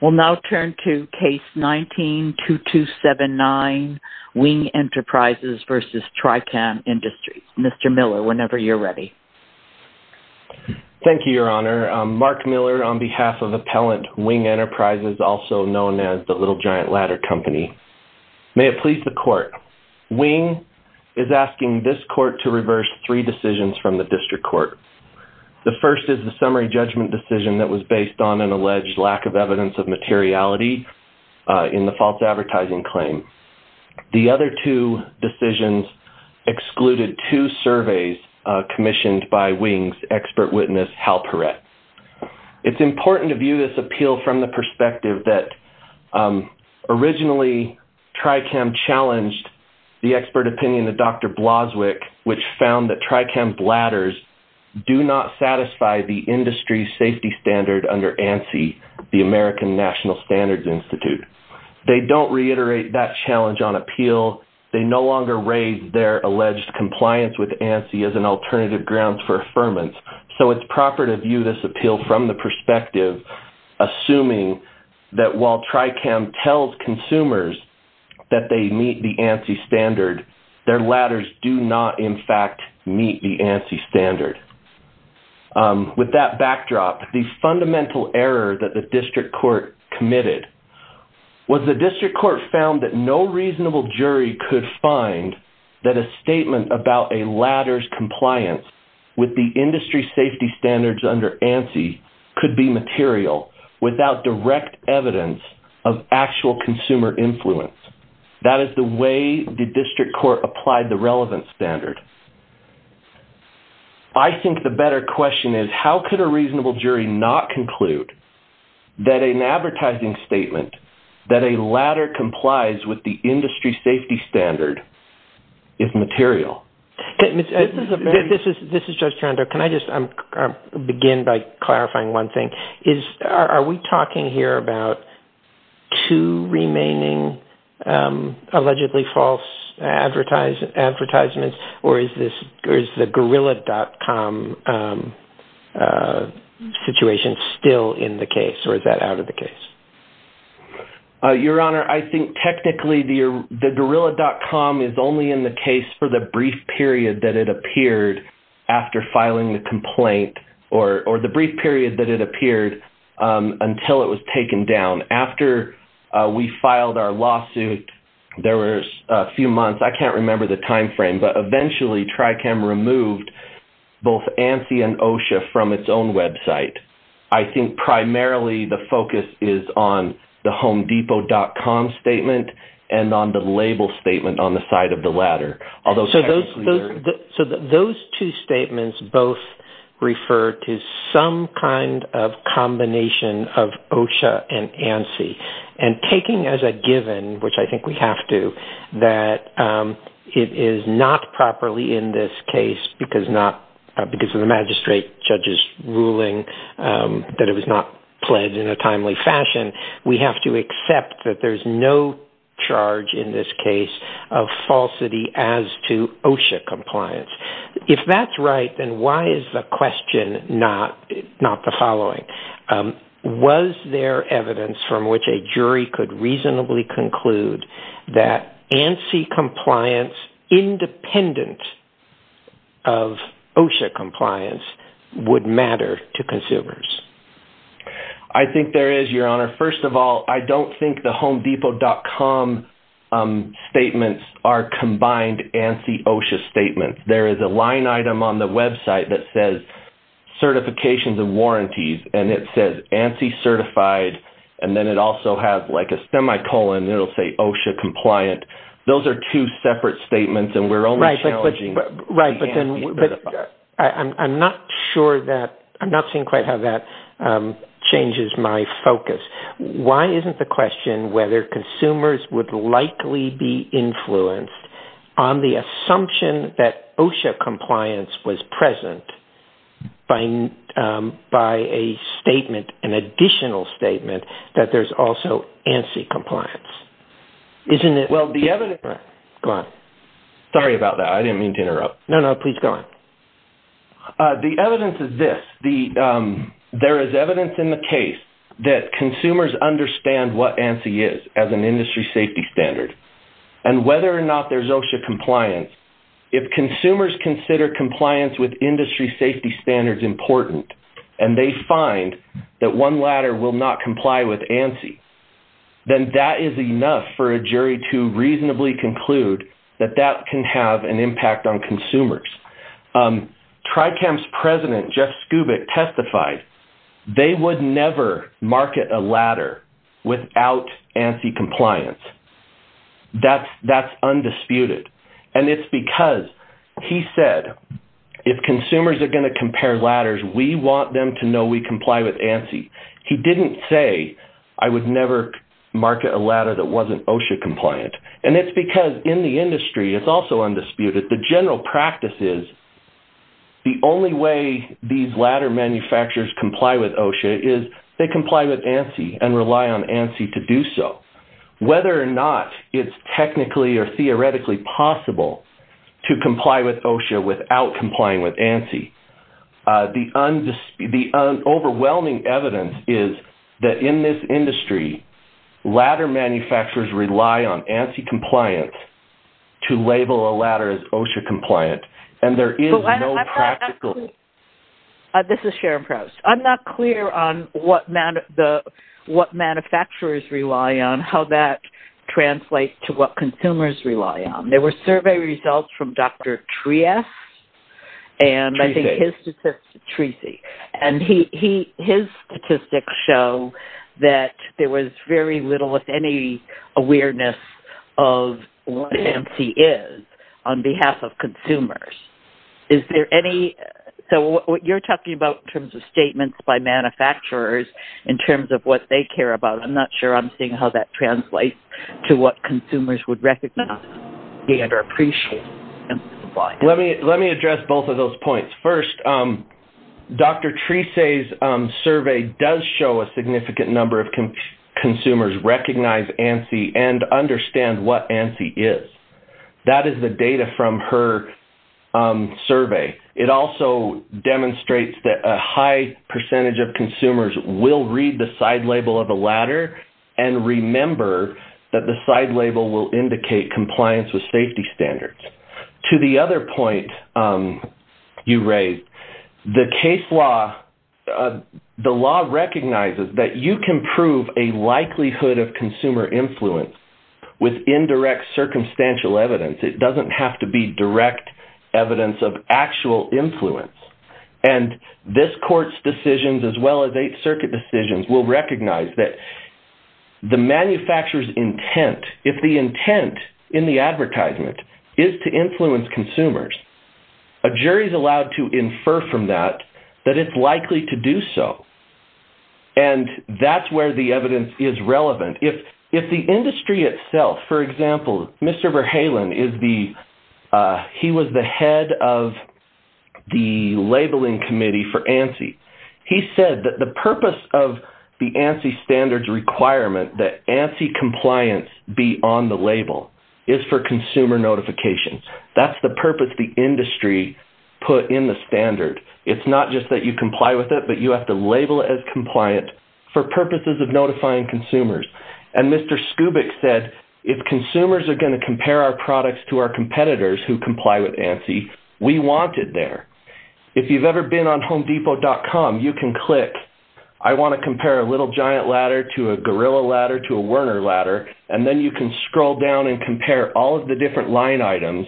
We'll now turn to Case 19-2279, Wing Enterprises v. Tricam Industries. Mr. Miller, whenever you're ready. Thank you, Your Honor. Mark Miller on behalf of Appellant Wing Enterprises, also known as the Little Giant Ladder Company. May it please the Court, Wing is asking this Court to reverse three decisions from the District Court. The first is the summary judgment decision that was based on an alleged lack of evidence of materiality in the false advertising claim. The other two decisions excluded two surveys commissioned by Wing's expert witness, Hal Perret. It's important to view this appeal from the perspective that originally Tricam challenged the expert opinion of Dr. Bloswick, which found that Tricam bladders do not satisfy the industry safety standard under ANSI, the American National Standards Institute. They don't reiterate that challenge on appeal. They no longer raise their alleged compliance with ANSI as an alternative grounds for affirmance. So it's proper to view this appeal from the perspective, assuming that while Tricam tells consumers that they meet the ANSI standard, their ladders do not, in fact, meet the ANSI standard. With that backdrop, the fundamental error that the District Court committed was the District Court found that no reasonable jury could find that a statement about a ladder's compliance with the industry safety standards under ANSI could be material without direct evidence of actual consumer influence. That is the way the District Court applied the relevant standard. I think the better question is, how could a reasonable jury not conclude that an advertising statement that a ladder complies with the industry safety standard is material? This is Judge Taranto. Can I just begin by clarifying one thing? Are we talking here about two remaining allegedly false advertisements, or is the Gorilla.com situation still in the case, or is that out of the case? Your Honor, I think technically the Gorilla.com is only in the case for the brief period that it appeared after filing the complaint, or the brief period that it appeared until it was taken down. After we filed our lawsuit, there was a few months. I can't remember the time frame, but eventually Tricam removed both ANSI and OSHA from its own website. I think primarily the focus is on the HomeDepot.com statement and on the label statement on the side of the ladder. Those two statements both refer to some kind of combination of OSHA and ANSI. Taking as a given, which I think we have to, that it is not properly in this case, because of the magistrate judge's ruling that it was not pledged in a timely fashion, we have to accept that there's no charge in this case of falsity as to OSHA compliance. If that's right, then why is the question not the following? Was there evidence from which a jury could reasonably conclude that ANSI compliance independent of OSHA compliance would matter to consumers? I think there is, Your Honor. First of all, I don't think the HomeDepot.com statements are combined ANSI-OSHA statements. There is a line item on the website that says Certifications and Warranties, and it says ANSI certified, and then it also has a semicolon that will say OSHA compliant. Those are two separate statements, and we're only challenging the ANSI certified. I'm not seeing quite how that changes my focus. Why isn't the question whether consumers would likely be influenced on the assumption that OSHA compliance was present by an additional statement that there's also ANSI compliance? Sorry about that. I didn't mean to interrupt. No, no, please go on. The evidence is this. There is evidence in the case that consumers understand what ANSI is as an industry safety standard, and whether or not there's OSHA compliance, if consumers consider compliance with industry safety standards important, and they find that one latter will not comply with ANSI, then that is enough for a jury to reasonably conclude that that can have an impact on consumers. TRICAM's president, Jeff Skubick, testified they would never market a latter without ANSI compliance. That's undisputed, and it's because he said if consumers are going to compare latters, we want them to know we comply with ANSI. He didn't say I would never market a latter that wasn't OSHA compliant, and it's because in the industry it's also undisputed. The general practice is the only way these latter manufacturers comply with OSHA is they comply with ANSI and rely on ANSI to do so. Whether or not it's technically or theoretically possible to comply with OSHA without complying with ANSI, the overwhelming evidence is that in this industry, latter manufacturers rely on ANSI compliance to label a latter as OSHA compliant, and there is no practical... This is Sharon Prowse. I'm not clear on what manufacturers rely on, how that translates to what consumers rely on. There were survey results from Dr. Triess, and his statistics show that there was very little, if any, awareness of what ANSI is on behalf of consumers. So what you're talking about in terms of statements by manufacturers in terms of what they care about, I'm not sure I'm seeing how that translates to what consumers would recognize. Let me address both of those points. First, Dr. Triess's survey does show a significant number of consumers recognize ANSI and understand what ANSI is. That is the data from her survey. It also demonstrates that a high percentage of consumers will read the side label of a latter and remember that the side label will indicate compliance with safety standards. To the other point you raised, the law recognizes that you can prove a likelihood of consumer influence with indirect circumstantial evidence. It doesn't have to be direct evidence of actual influence. This court's decisions as well as Eighth Circuit decisions will recognize that the manufacturer's intent, if the intent in the advertisement is to influence consumers, a jury is allowed to infer from that that it's likely to do so. That's where the evidence is relevant. If the industry itself, for example, Mr. Verhalen was the head of the labeling committee for ANSI. He said that the purpose of the ANSI standards requirement, that ANSI compliance be on the label, is for consumer notification. That's the purpose the industry put in the standard. It's not just that you comply with it, but you have to label it as compliant for purposes of notifying consumers. And Mr. Skubik said, if consumers are going to compare our products to our competitors who comply with ANSI, we want it there. If you've ever been on HomeDepot.com, you can click, I want to compare a Little Giant Ladder to a Gorilla Ladder to a Werner Ladder, and then you can scroll down and compare all of the different line items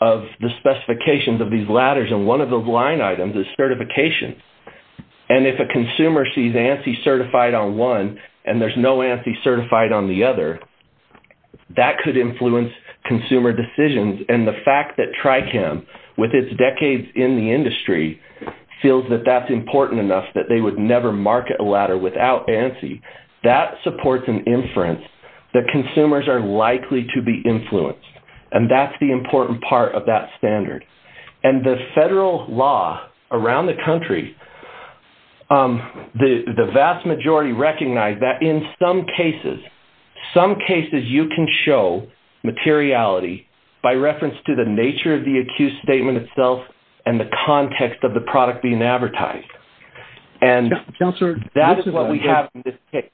of the specifications of these ladders. And one of those line items is certification. And if a consumer sees ANSI certified on one and there's no ANSI certified on the other, that could influence consumer decisions. And the fact that TRICAM, with its decades in the industry, feels that that's important enough that they would never market a ladder without ANSI, that supports an inference that consumers are likely to be influenced. And that's the important part of that standard. And the federal law around the country, the vast majority recognize that in some cases, some cases you can show materiality by reference to the nature of the accused statement itself and the context of the product being advertised. And that is what we have in this case.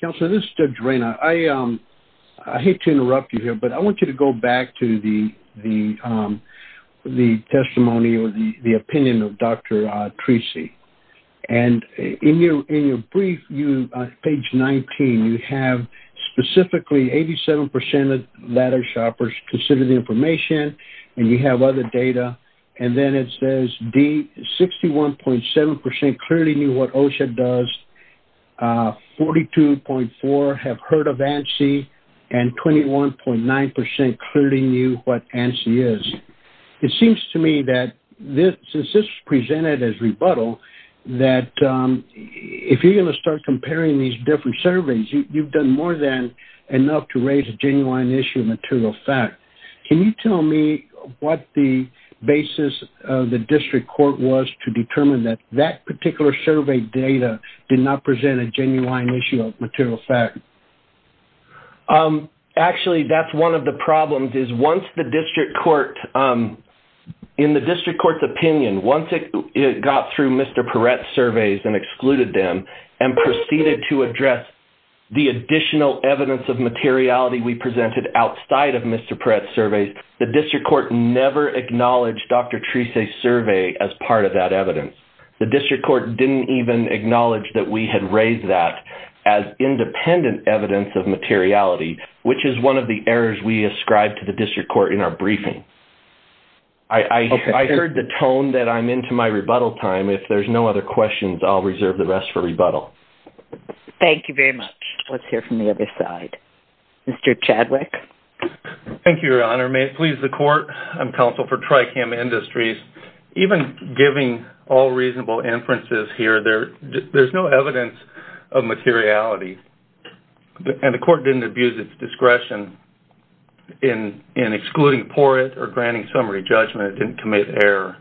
Counselor, this is Judge Ray. I hate to interrupt you here, but I want you to go back to the testimony or the opinion of Dr. Treacy. And in your brief, page 19, you have specifically 87% of ladder shoppers consider the information, and you have other data. And then it says D, 61.7% clearly knew what OSHA does, 42.4% have heard of ANSI, and 21.9% clearly knew what ANSI is. It seems to me that since this was presented as rebuttal, that if you're going to start comparing these different surveys, you've done more than enough to raise a genuine issue of material fact. Can you tell me what the basis of the district court was to determine that that particular survey data did not present a genuine issue of material fact? Actually, that's one of the problems, is once the district court, in the district court's opinion, once it got through Mr. Perret's surveys and excluded them and proceeded to address the additional evidence of materiality we presented outside of Mr. Perret's surveys, the district court never acknowledged Dr. Treacy's survey as part of that evidence. The district court didn't even acknowledge that we had raised that as independent evidence of materiality, which is one of the errors we ascribed to the district court in our briefing. I heard the tone that I'm into my rebuttal time. If there's no other questions, I'll reserve the rest for rebuttal. Thank you very much. Let's hear from the other side. Mr. Chadwick. Thank you, Your Honor. May it please the court. I'm counsel for Tricam Industries. Even giving all reasonable inferences here, there's no evidence of materiality, and the court didn't abuse its discretion in excluding Perret or granting summary judgment. It didn't commit error.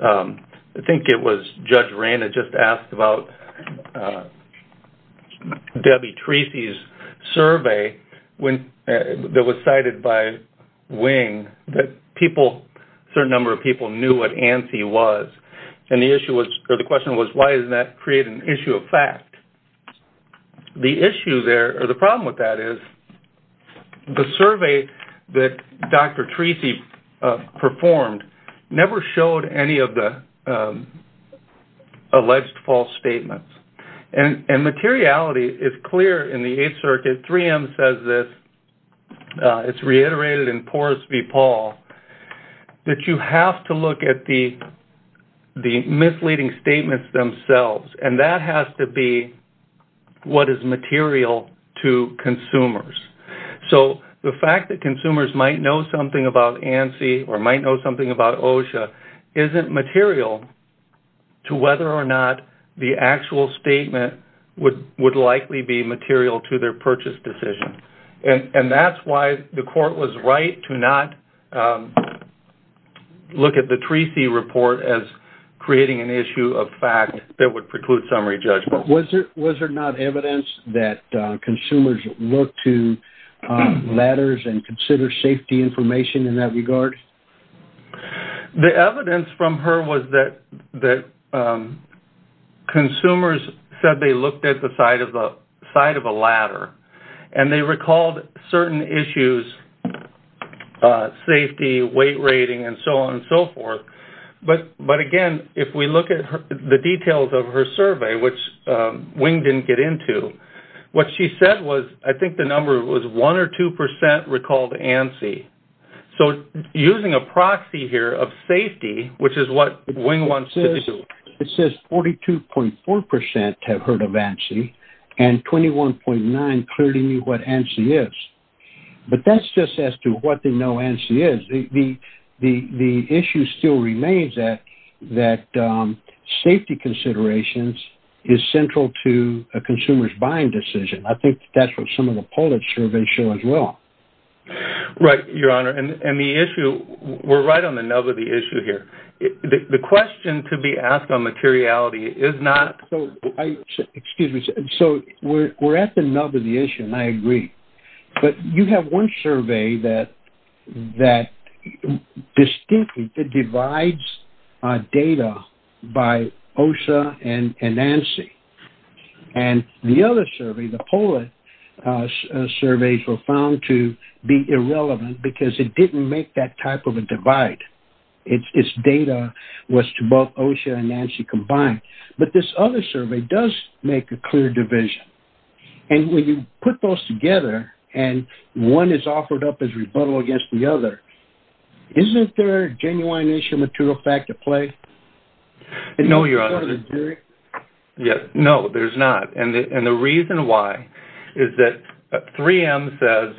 I think it was Judge Reyna just asked about Debbie Treacy's survey that was cited by Wing that a certain number of people knew what ANSI was, and the question was, why doesn't that create an issue of fact? The issue there, or the problem with that is, the survey that Dr. Treacy performed never showed any of the alleged false statements, and materiality is clear in the Eighth Circuit. 3M says this. It's reiterated in Porus v. Paul that you have to look at the misleading statements themselves, and that has to be what is material to consumers. So the fact that consumers might know something about ANSI or might know something about OSHA isn't material to whether or not the actual statement would likely be material to their purchase decision. And that's why the court was right to not look at the Treacy report as creating an issue of fact that would preclude summary judgment. Was there not evidence that consumers look to ladders and consider safety information in that regard? The evidence from her was that consumers said they looked at the side of a ladder, and they recalled certain issues, safety, weight rating, and so on and so forth. But again, if we look at the details of her survey, which Wing didn't get into, what she said was, I think the number was 1 or 2 percent recalled ANSI. So using a proxy here of safety, which is what Wing wants to do... It says 42.4 percent have heard of ANSI, and 21.9 clearly knew what ANSI is. But that's just as to what they know ANSI is. The issue still remains that safety considerations is central to a consumer's buying decision. I think that's what some of the polling surveys show as well. Right, Your Honor. And the issue, we're right on the nub of the issue here. The question to be asked on materiality is not... Excuse me. So we're at the nub of the issue, and I agree. But you have one survey that distinctly divides data by OSHA and ANSI. And the other survey, the poll surveys were found to be irrelevant because it didn't make that type of a divide. Its data was to both OSHA and ANSI combined. But this other survey does make a clear division. And when you put those together, and one is offered up as rebuttal against the other, isn't there a genuine issue of material fact at play? No, Your Honor. No, there's not. And the reason why is that 3M says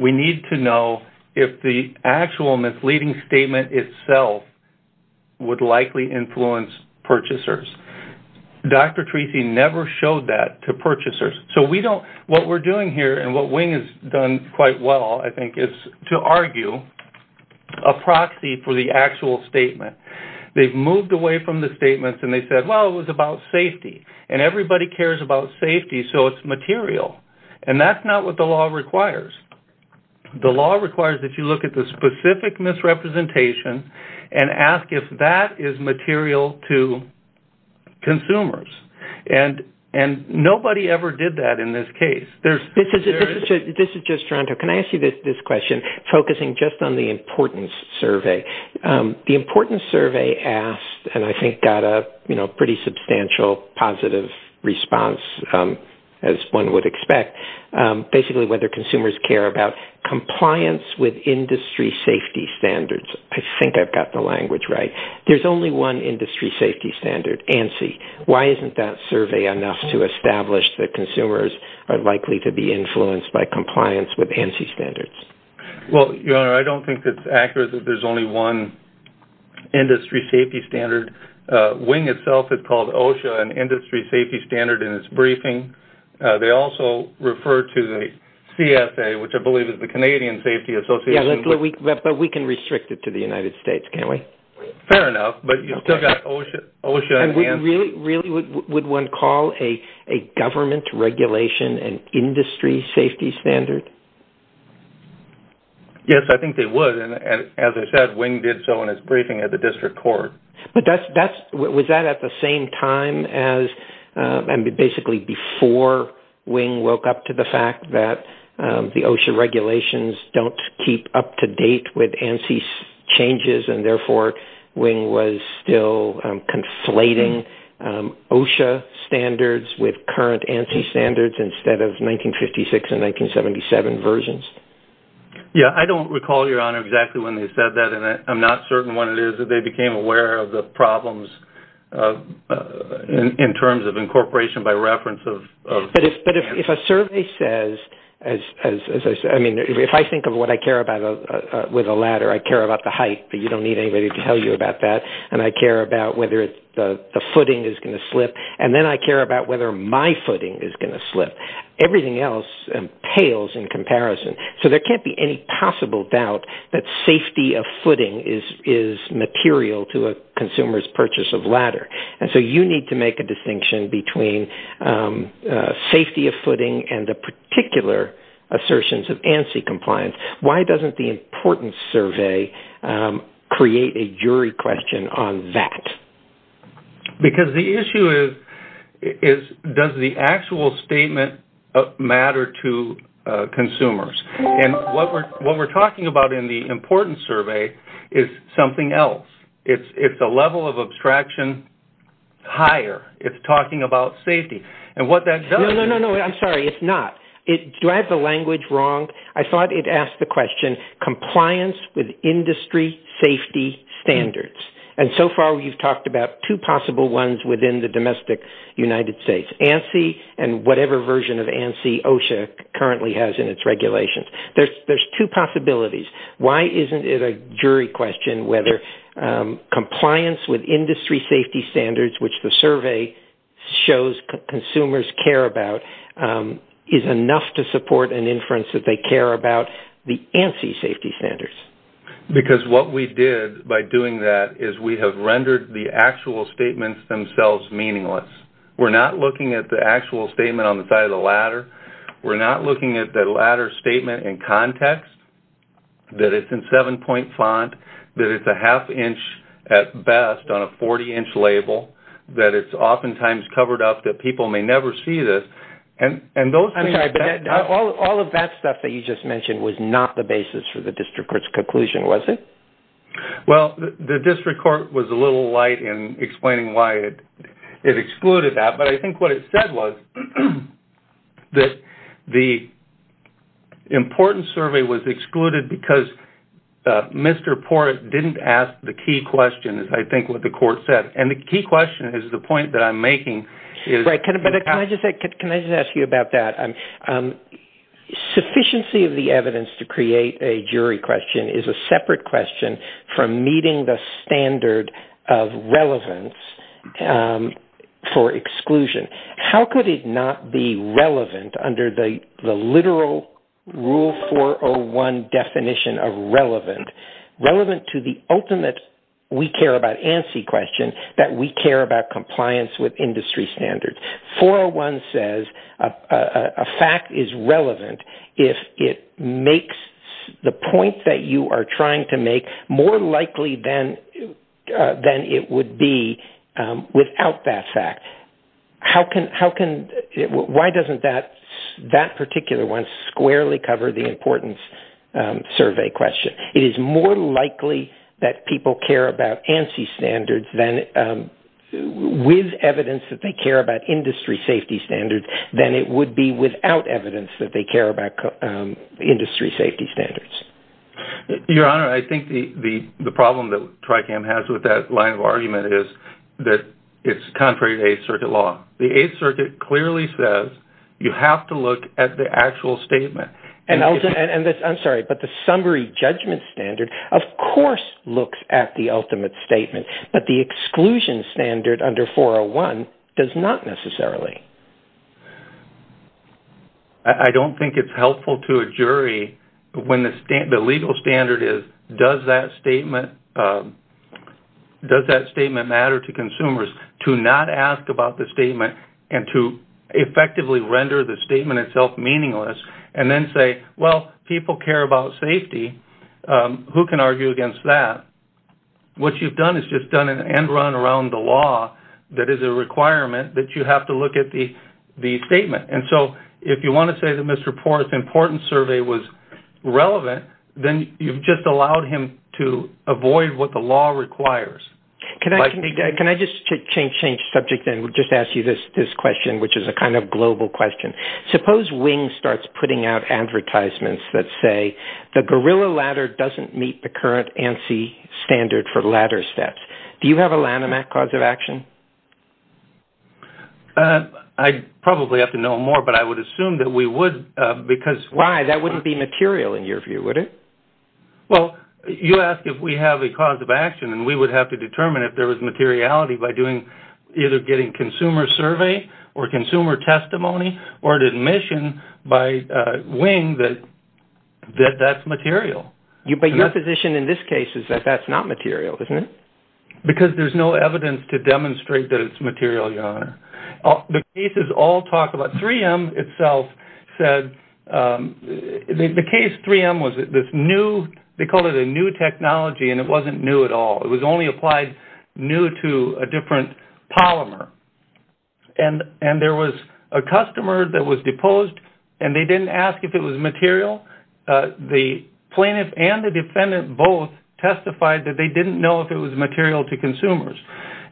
we need to know if the actual misleading statement itself would likely influence purchasers. Dr. Treacy never showed that to purchasers. So we don't... What we're doing here, and what Wing has done quite well, I think, is to argue a proxy for the actual statement. They've moved away from the statements, and they said, well, it was about safety. And everybody cares about safety, so it's material. And that's not what the law requires. The law requires that you look at the specific misrepresentation and ask if that is material to consumers. And nobody ever did that in this case. This is Joe Stronto. Can I ask you this question, focusing just on the importance survey? The importance survey asked, and I think got a pretty substantial positive response, as one would expect, basically whether consumers care about compliance with industry safety standards. I think I've got the language right. There's only one industry safety standard, ANSI. Why isn't that survey enough to establish that consumers are likely to be influenced by compliance with ANSI standards? Well, your Honor, I don't think it's accurate that there's only one industry safety standard. Wing itself has called OSHA an industry safety standard in its briefing. They also refer to the CSA, which I believe is the Canadian Safety Association. Yeah, but we can restrict it to the United States, can't we? Fair enough, but you've still got OSHA and ANSI. And really, would one call a government regulation an industry safety standard? Yes, I think they would. And as I said, Wing did so in his briefing at the District Court. But was that at the same time as, and basically before Wing woke up to the fact that the OSHA regulations don't keep up to date with ANSI changes, and therefore Wing was still conflating OSHA standards with current ANSI standards instead of 1956 and 1977 versions? Yeah, I don't recall, Your Honor, exactly when they said that. And I'm not certain when it is that they became aware of the problems in terms of incorporation by reference of ANSI. But if a survey says, I mean, if I think of what I care about with a ladder, I care about the height, but you don't need anybody to tell you about that. And I care about whether the footing is going to slip. And then I care about whether my footing is going to slip. Everything else pales in comparison. So there can't be any possible doubt that safety of footing is material to a consumer's purchase of ladder. And so you need to make a distinction between safety of footing and the particular assertions of ANSI compliance. Why doesn't the importance survey create a jury question on that? Because the issue is, does the actual statement matter to consumers? And what we're talking about in the importance survey is something else. It's a level of abstraction higher. It's talking about safety. No, no, no, I'm sorry, it's not. Do I have the language wrong? I thought it asked the question, compliance with industry safety standards. And so far we've talked about two possible ones within the domestic United States, ANSI and whatever version of ANSI OSHA currently has in its regulations. There's two possibilities. Why isn't it a jury question whether compliance with industry safety standards, which the survey shows consumers care about, is enough to support an inference that they care about the ANSI safety standards? Because what we did by doing that is we have rendered the actual statements themselves meaningless. We're not looking at the actual statement on the side of the ladder. We're not looking at the ladder statement in context, that it's in seven-point font, that it's a half inch at best on a 40-inch label, that it's oftentimes covered up, that people may never see this. All of that stuff that you just mentioned was not the basis for the district court's conclusion, was it? Well, the district court was a little light in explaining why it excluded that. But I think what it said was that the important survey was excluded because Mr. Port didn't ask the key question, is I think what the court said. And the key question is the point that I'm making. Right. Can I just ask you about that? Sufficiency of the evidence to create a jury question is a separate question from meeting the How could it not be relevant under the literal rule 401 definition of relevant? Relevant to the ultimate we care about ANSI question that we care about compliance with industry standards. 401 says a fact is relevant if it makes the point that you are trying to make more likely than it would be without that fact. Why doesn't that particular one squarely cover the importance survey question? It is more likely that people care about ANSI standards with evidence that they care about industry safety standards than it would be without evidence that they care about industry safety standards. Your Honor, I think the problem that TRICAM has with that line of argument is that it is contrary to 8th Circuit law. The 8th Circuit clearly says you have to look at the actual statement. I'm sorry, but the summary judgment standard of course looks at the ultimate statement. But the exclusion standard under 401 does not necessarily. I don't think it's helpful to a jury when the legal standard is does that statement matter to consumers to not ask about the statement and to effectively render the statement itself meaningless and then say, well, people care about safety. Who can argue against that? What you've done is just done an end run around the law that is a requirement that you have to look at the statement. And so if you want to say that Mr. Porath's importance survey was relevant, then you've just allowed him to avoid what the law requires. Can I just change subject and just ask you this question, which is a kind of global question? Suppose Wing starts putting out advertisements that say the gorilla ladder doesn't meet the current ANSI standard for ladder steps. Do you have a Lanham Act cause of action? I'd probably have to know more, but I would assume that we would. Why? That wouldn't be material in your view, would it? Well, you ask if we have a cause of action, and we would have to determine if there was materiality by either getting consumer survey or consumer testimony or an admission by Wing that that's material. But your position in this case is that that's not material, isn't it? Because there's no evidence to demonstrate that it's material, Your Honor. The cases all talk about 3M itself said the case 3M was this new, they called it a new technology, and it wasn't new at all. It was only applied new to a different polymer. And there was a customer that was deposed, and they didn't ask if it was material. The plaintiff and the defendant both testified that they didn't know if it was material to consumers.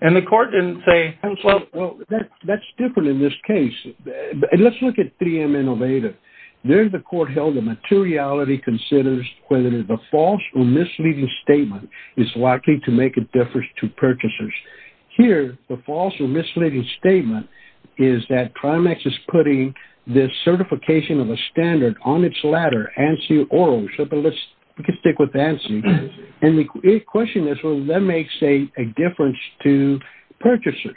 And the court didn't say. Well, that's different in this case. Let's look at 3M Innovative. There the court held that materiality considers whether the false or misleading statement is likely to make a difference to purchasers. Here, the false or misleading statement is that Primex is putting the certification of a standard on its ladder, ANSI or ORO. We can stick with ANSI. And the question is, well, that makes a difference to purchasers.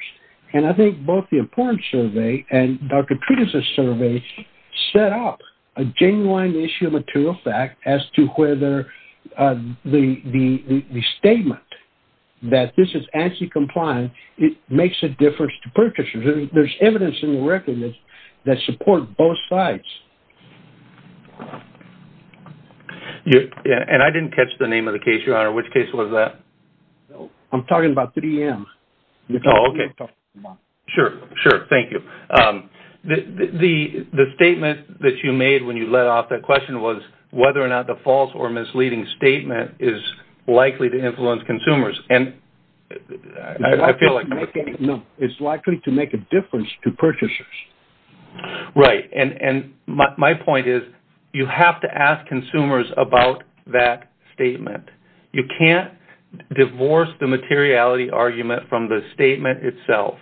And I think both the importance survey and Dr. Treatise's survey set up a genuine issue of material fact as to whether the statement that this is ANSI compliant makes a difference to purchasers. There's evidence in the record that supports both sides. And I didn't catch the name of the case, Your Honor. Which case was that? I'm talking about 3M. Oh, okay. Sure. Sure. Thank you. The statement that you made when you let off that question was whether or not the false or misleading statement is likely to influence consumers. And I feel like... No, it's likely to make a difference to purchasers. Right. And my point is, you have to ask consumers about that statement. You can't divorce the materiality argument from the statement itself.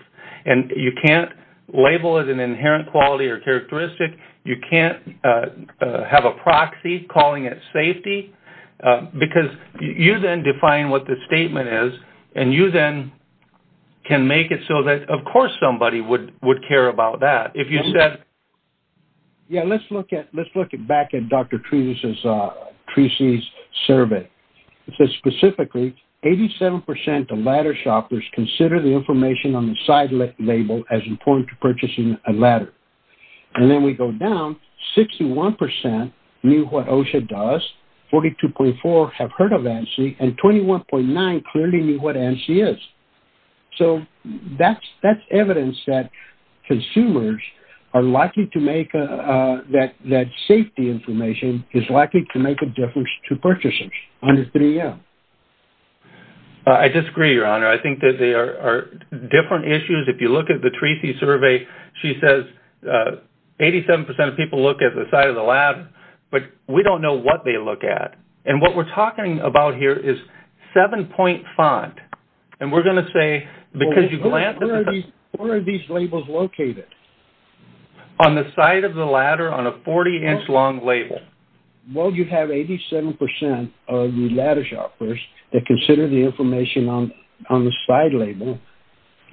And you can't label it an inherent quality or characteristic. You can't have a proxy calling it safety because you then define what the statement is, and you then can make it so that, of course, somebody would care about that. Yeah, let's look back at Dr. Treacy's survey. Specifically, 87% of ladder shoppers consider the information on the side label as important to purchasing a ladder. And then we go down, 61% knew what OSHA does, 42.4% have heard of ANSI, and 21.9% clearly knew what ANSI is. So that's evidence that consumers are likely to make... that safety information is likely to make a difference to purchasers under 3M. I disagree, Your Honor. I think that there are different issues. If you look at the Treacy survey, she says 87% of people look at the side of the ladder, but we don't know what they look at. And what we're talking about here is 7-point font. And we're going to say, because you... Where are these labels located? On the side of the ladder on a 40-inch long label. Well, you have 87% of ladder shoppers that consider the information on the side label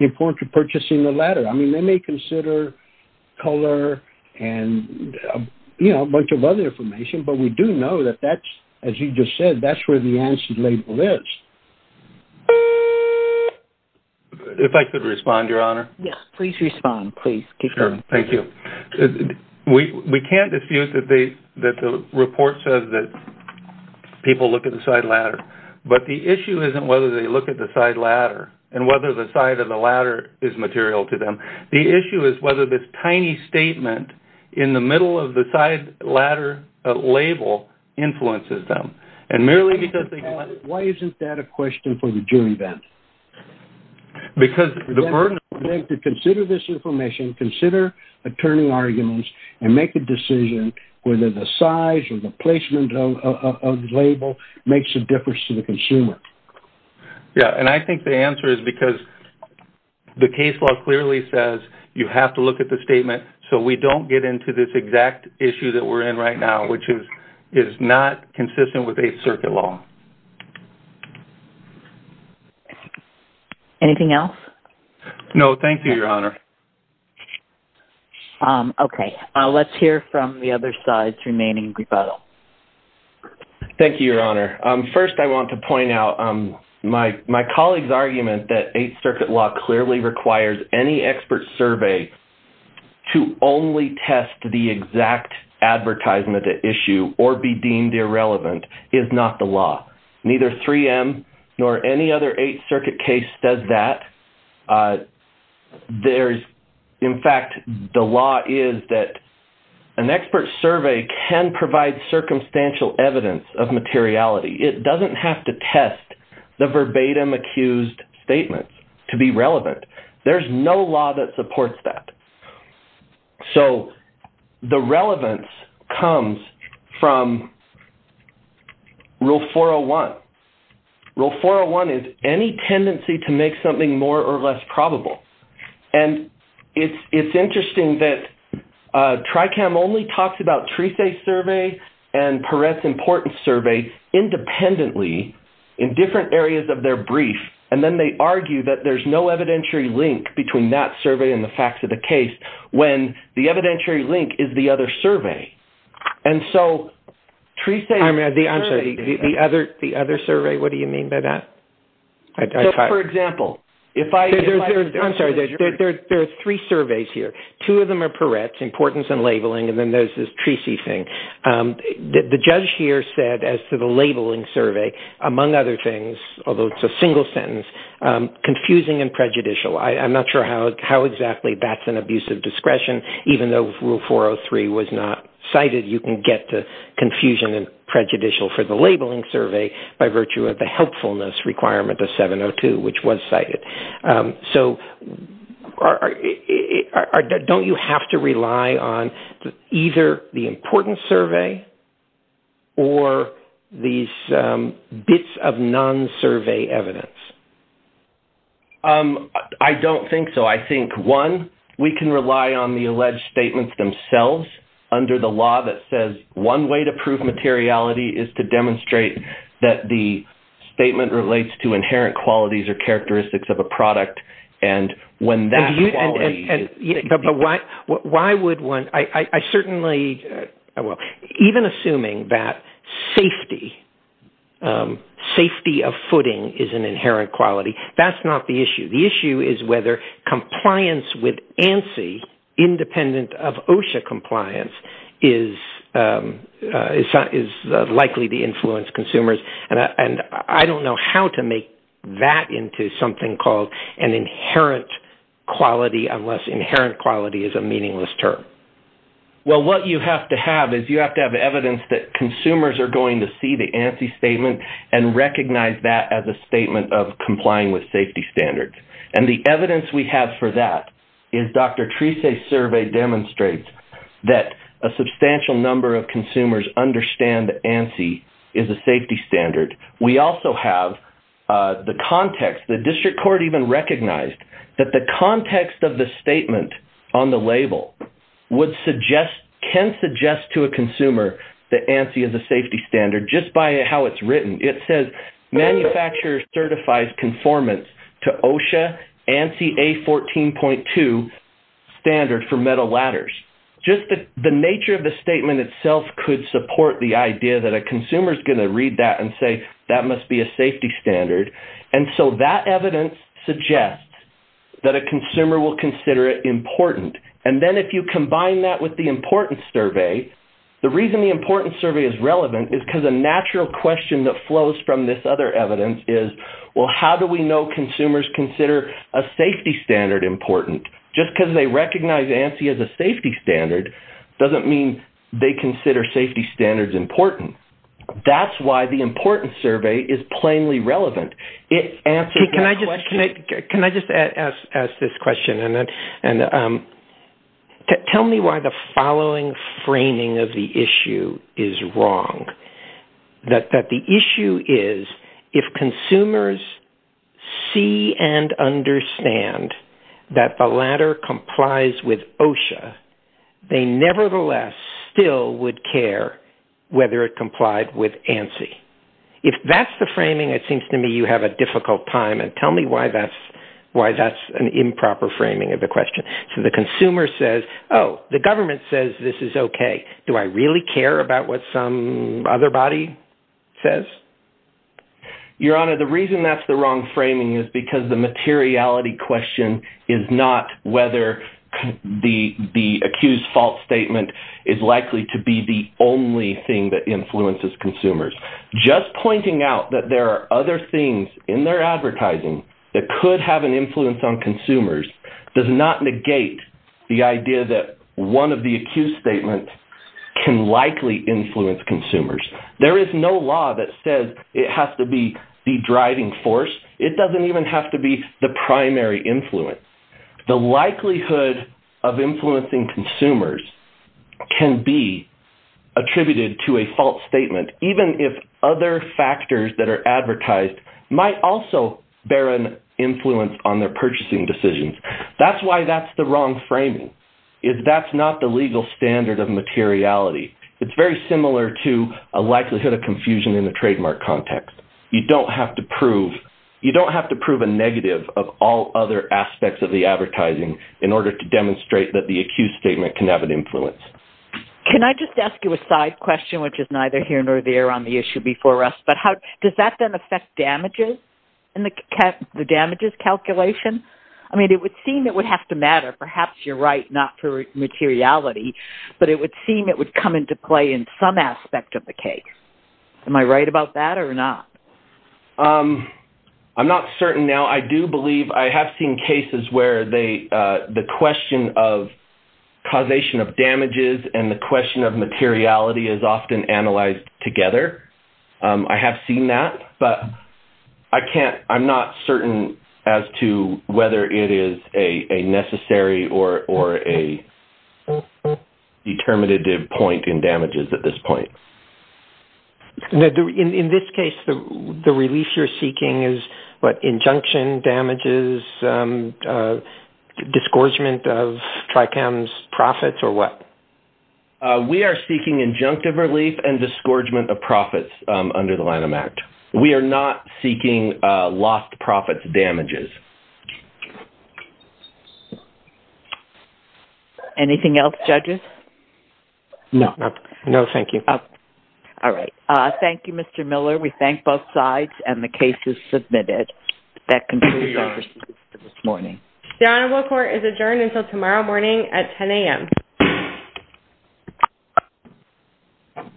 important to purchasing a ladder. I mean, they may consider color and, you know, a bunch of other information, but we do know that that's, as you just said, that's where the ANSI label is. If I could respond, Your Honor. Yes, please respond, please. Sure, thank you. We can't dispute that the report says that people look at the side ladder, but the issue isn't whether they look at the side ladder and whether the side of the ladder is material to them. The issue is whether this tiny statement in the middle of the side ladder label influences them. And merely because they... Why isn't that a question for the jury, then? Because the burden... They have to consider this information, consider attorney arguments, and make a decision whether the size or the placement of the label makes a difference to the consumer. Yeah, and I think the answer is because the case law clearly says you have to look at the statement so we don't get into this exact issue that we're in right now, which is not consistent with Eighth Circuit law. Anything else? No, thank you, Your Honor. Okay, let's hear from the other side's remaining rebuttal. Thank you, Your Honor. First, I want to point out my colleague's argument that Eighth Circuit law clearly requires any expert survey to only test the exact advertisement issue or be deemed irrelevant is not the law. Neither 3M nor any other Eighth Circuit case does that. There's... In fact, the law is that an expert survey can provide circumstantial evidence of materiality. It doesn't have to test the verbatim accused statements to be relevant. There's no law that supports that. So the relevance comes from Rule 401. Rule 401 is any tendency to make something more or less probable. And it's interesting that TRICAM only talks about TRISE survey and Peretz importance survey independently in different areas of their brief, and then they argue that there's no evidentiary link between that survey and the facts of the case when the evidentiary link is the other survey. And so TRISE... I'm sorry. The other survey? What do you mean by that? For example, if I... I'm sorry. There are three surveys here. Two of them are Peretz, importance and labeling, and then there's this TRISE thing. The judge here said as to the labeling survey, among other things, although it's a single sentence, I'm not sure how exactly that's an abuse of discretion. Even though Rule 403 was not cited, you can get to confusion and prejudicial for the labeling survey by virtue of the helpfulness requirement of 702, which was cited. So don't you have to rely on either the importance survey or these bits of non-survey evidence? I don't think so. No, I think, one, we can rely on the alleged statements themselves under the law that says one way to prove materiality is to demonstrate that the statement relates to inherent qualities or characteristics of a product, and when that quality... But why would one... I certainly... Even assuming that safety of footing is an inherent quality, that's not the issue. The issue is whether compliance with ANSI independent of OSHA compliance is likely to influence consumers, and I don't know how to make that into something called an inherent quality unless inherent quality is a meaningless term. Well, what you have to have is you have to have evidence that consumers are going to see the ANSI statement and recognize that as a statement of complying with safety standards, and the evidence we have for that is Dr. Treese's survey demonstrates that a substantial number of consumers understand that ANSI is a safety standard. We also have the context. The district court even recognized that the context of the statement on the label would suggest... Just by how it's written, it says, manufacturer certifies conformance to OSHA ANSI A14.2 standard for metal ladders. Just the nature of the statement itself could support the idea that a consumer is going to read that and say, that must be a safety standard, and so that evidence suggests that a consumer will consider it important, and then if you combine that with the importance survey, the reason the importance survey is relevant is because a natural question that flows from this other evidence is, well, how do we know consumers consider a safety standard important? Just because they recognize ANSI as a safety standard doesn't mean they consider safety standards important. That's why the importance survey is plainly relevant. Can I just ask this question? Tell me why the following framing of the issue is wrong, that the issue is if consumers see and understand that the ladder complies with OSHA, they nevertheless still would care whether it complied with ANSI. If that's the framing, it seems to me you have a difficult time, and tell me why that's an improper framing of the question. So the consumer says, oh, the government says this is okay. Do I really care about what some other body says? Your Honor, the reason that's the wrong framing is because the materiality question is not whether the accused fault statement is likely to be the only thing that influences consumers. Just pointing out that there are other things in their advertising that could have an influence on consumers does not negate the idea that one of the accused statements can likely influence consumers. There is no law that says it has to be the driving force. It doesn't even have to be the primary influence. The likelihood of influencing consumers can be attributed to a fault statement, even if other factors that are advertised might also bear an influence on their purchasing decisions. That's why that's the wrong framing, is that's not the legal standard of materiality. It's very similar to a likelihood of confusion in the trademark context. You don't have to prove a negative of all other aspects of the advertising in order to demonstrate that the accused statement can have an influence. Can I just ask you a side question, which is neither here nor there on the issue before us, but does that then affect damages in the damages calculation? I mean, it would seem it would have to matter. Perhaps you're right not for materiality, but it would seem it would come into play in some aspect of the case. Am I right about that or not? I'm not certain now. I do believe I have seen cases where the question of causation of damages and the question of materiality is often analyzed together. I have seen that, but I'm not certain as to whether it is a necessary or a determinative point in damages at this point. In this case, the relief you're seeking is what, injunction, damages, disgorgement of Tricam's profits or what? We are seeking injunctive relief and disgorgement of profits under the Lanham Act. We are not seeking lost profits damages. Anything else, judges? No, thank you. All right. Thank you, Mr. Miller. We thank both sides and the case is submitted. That concludes our proceedings for this morning. The Honorable Court is adjourned until tomorrow morning at 10 a.m.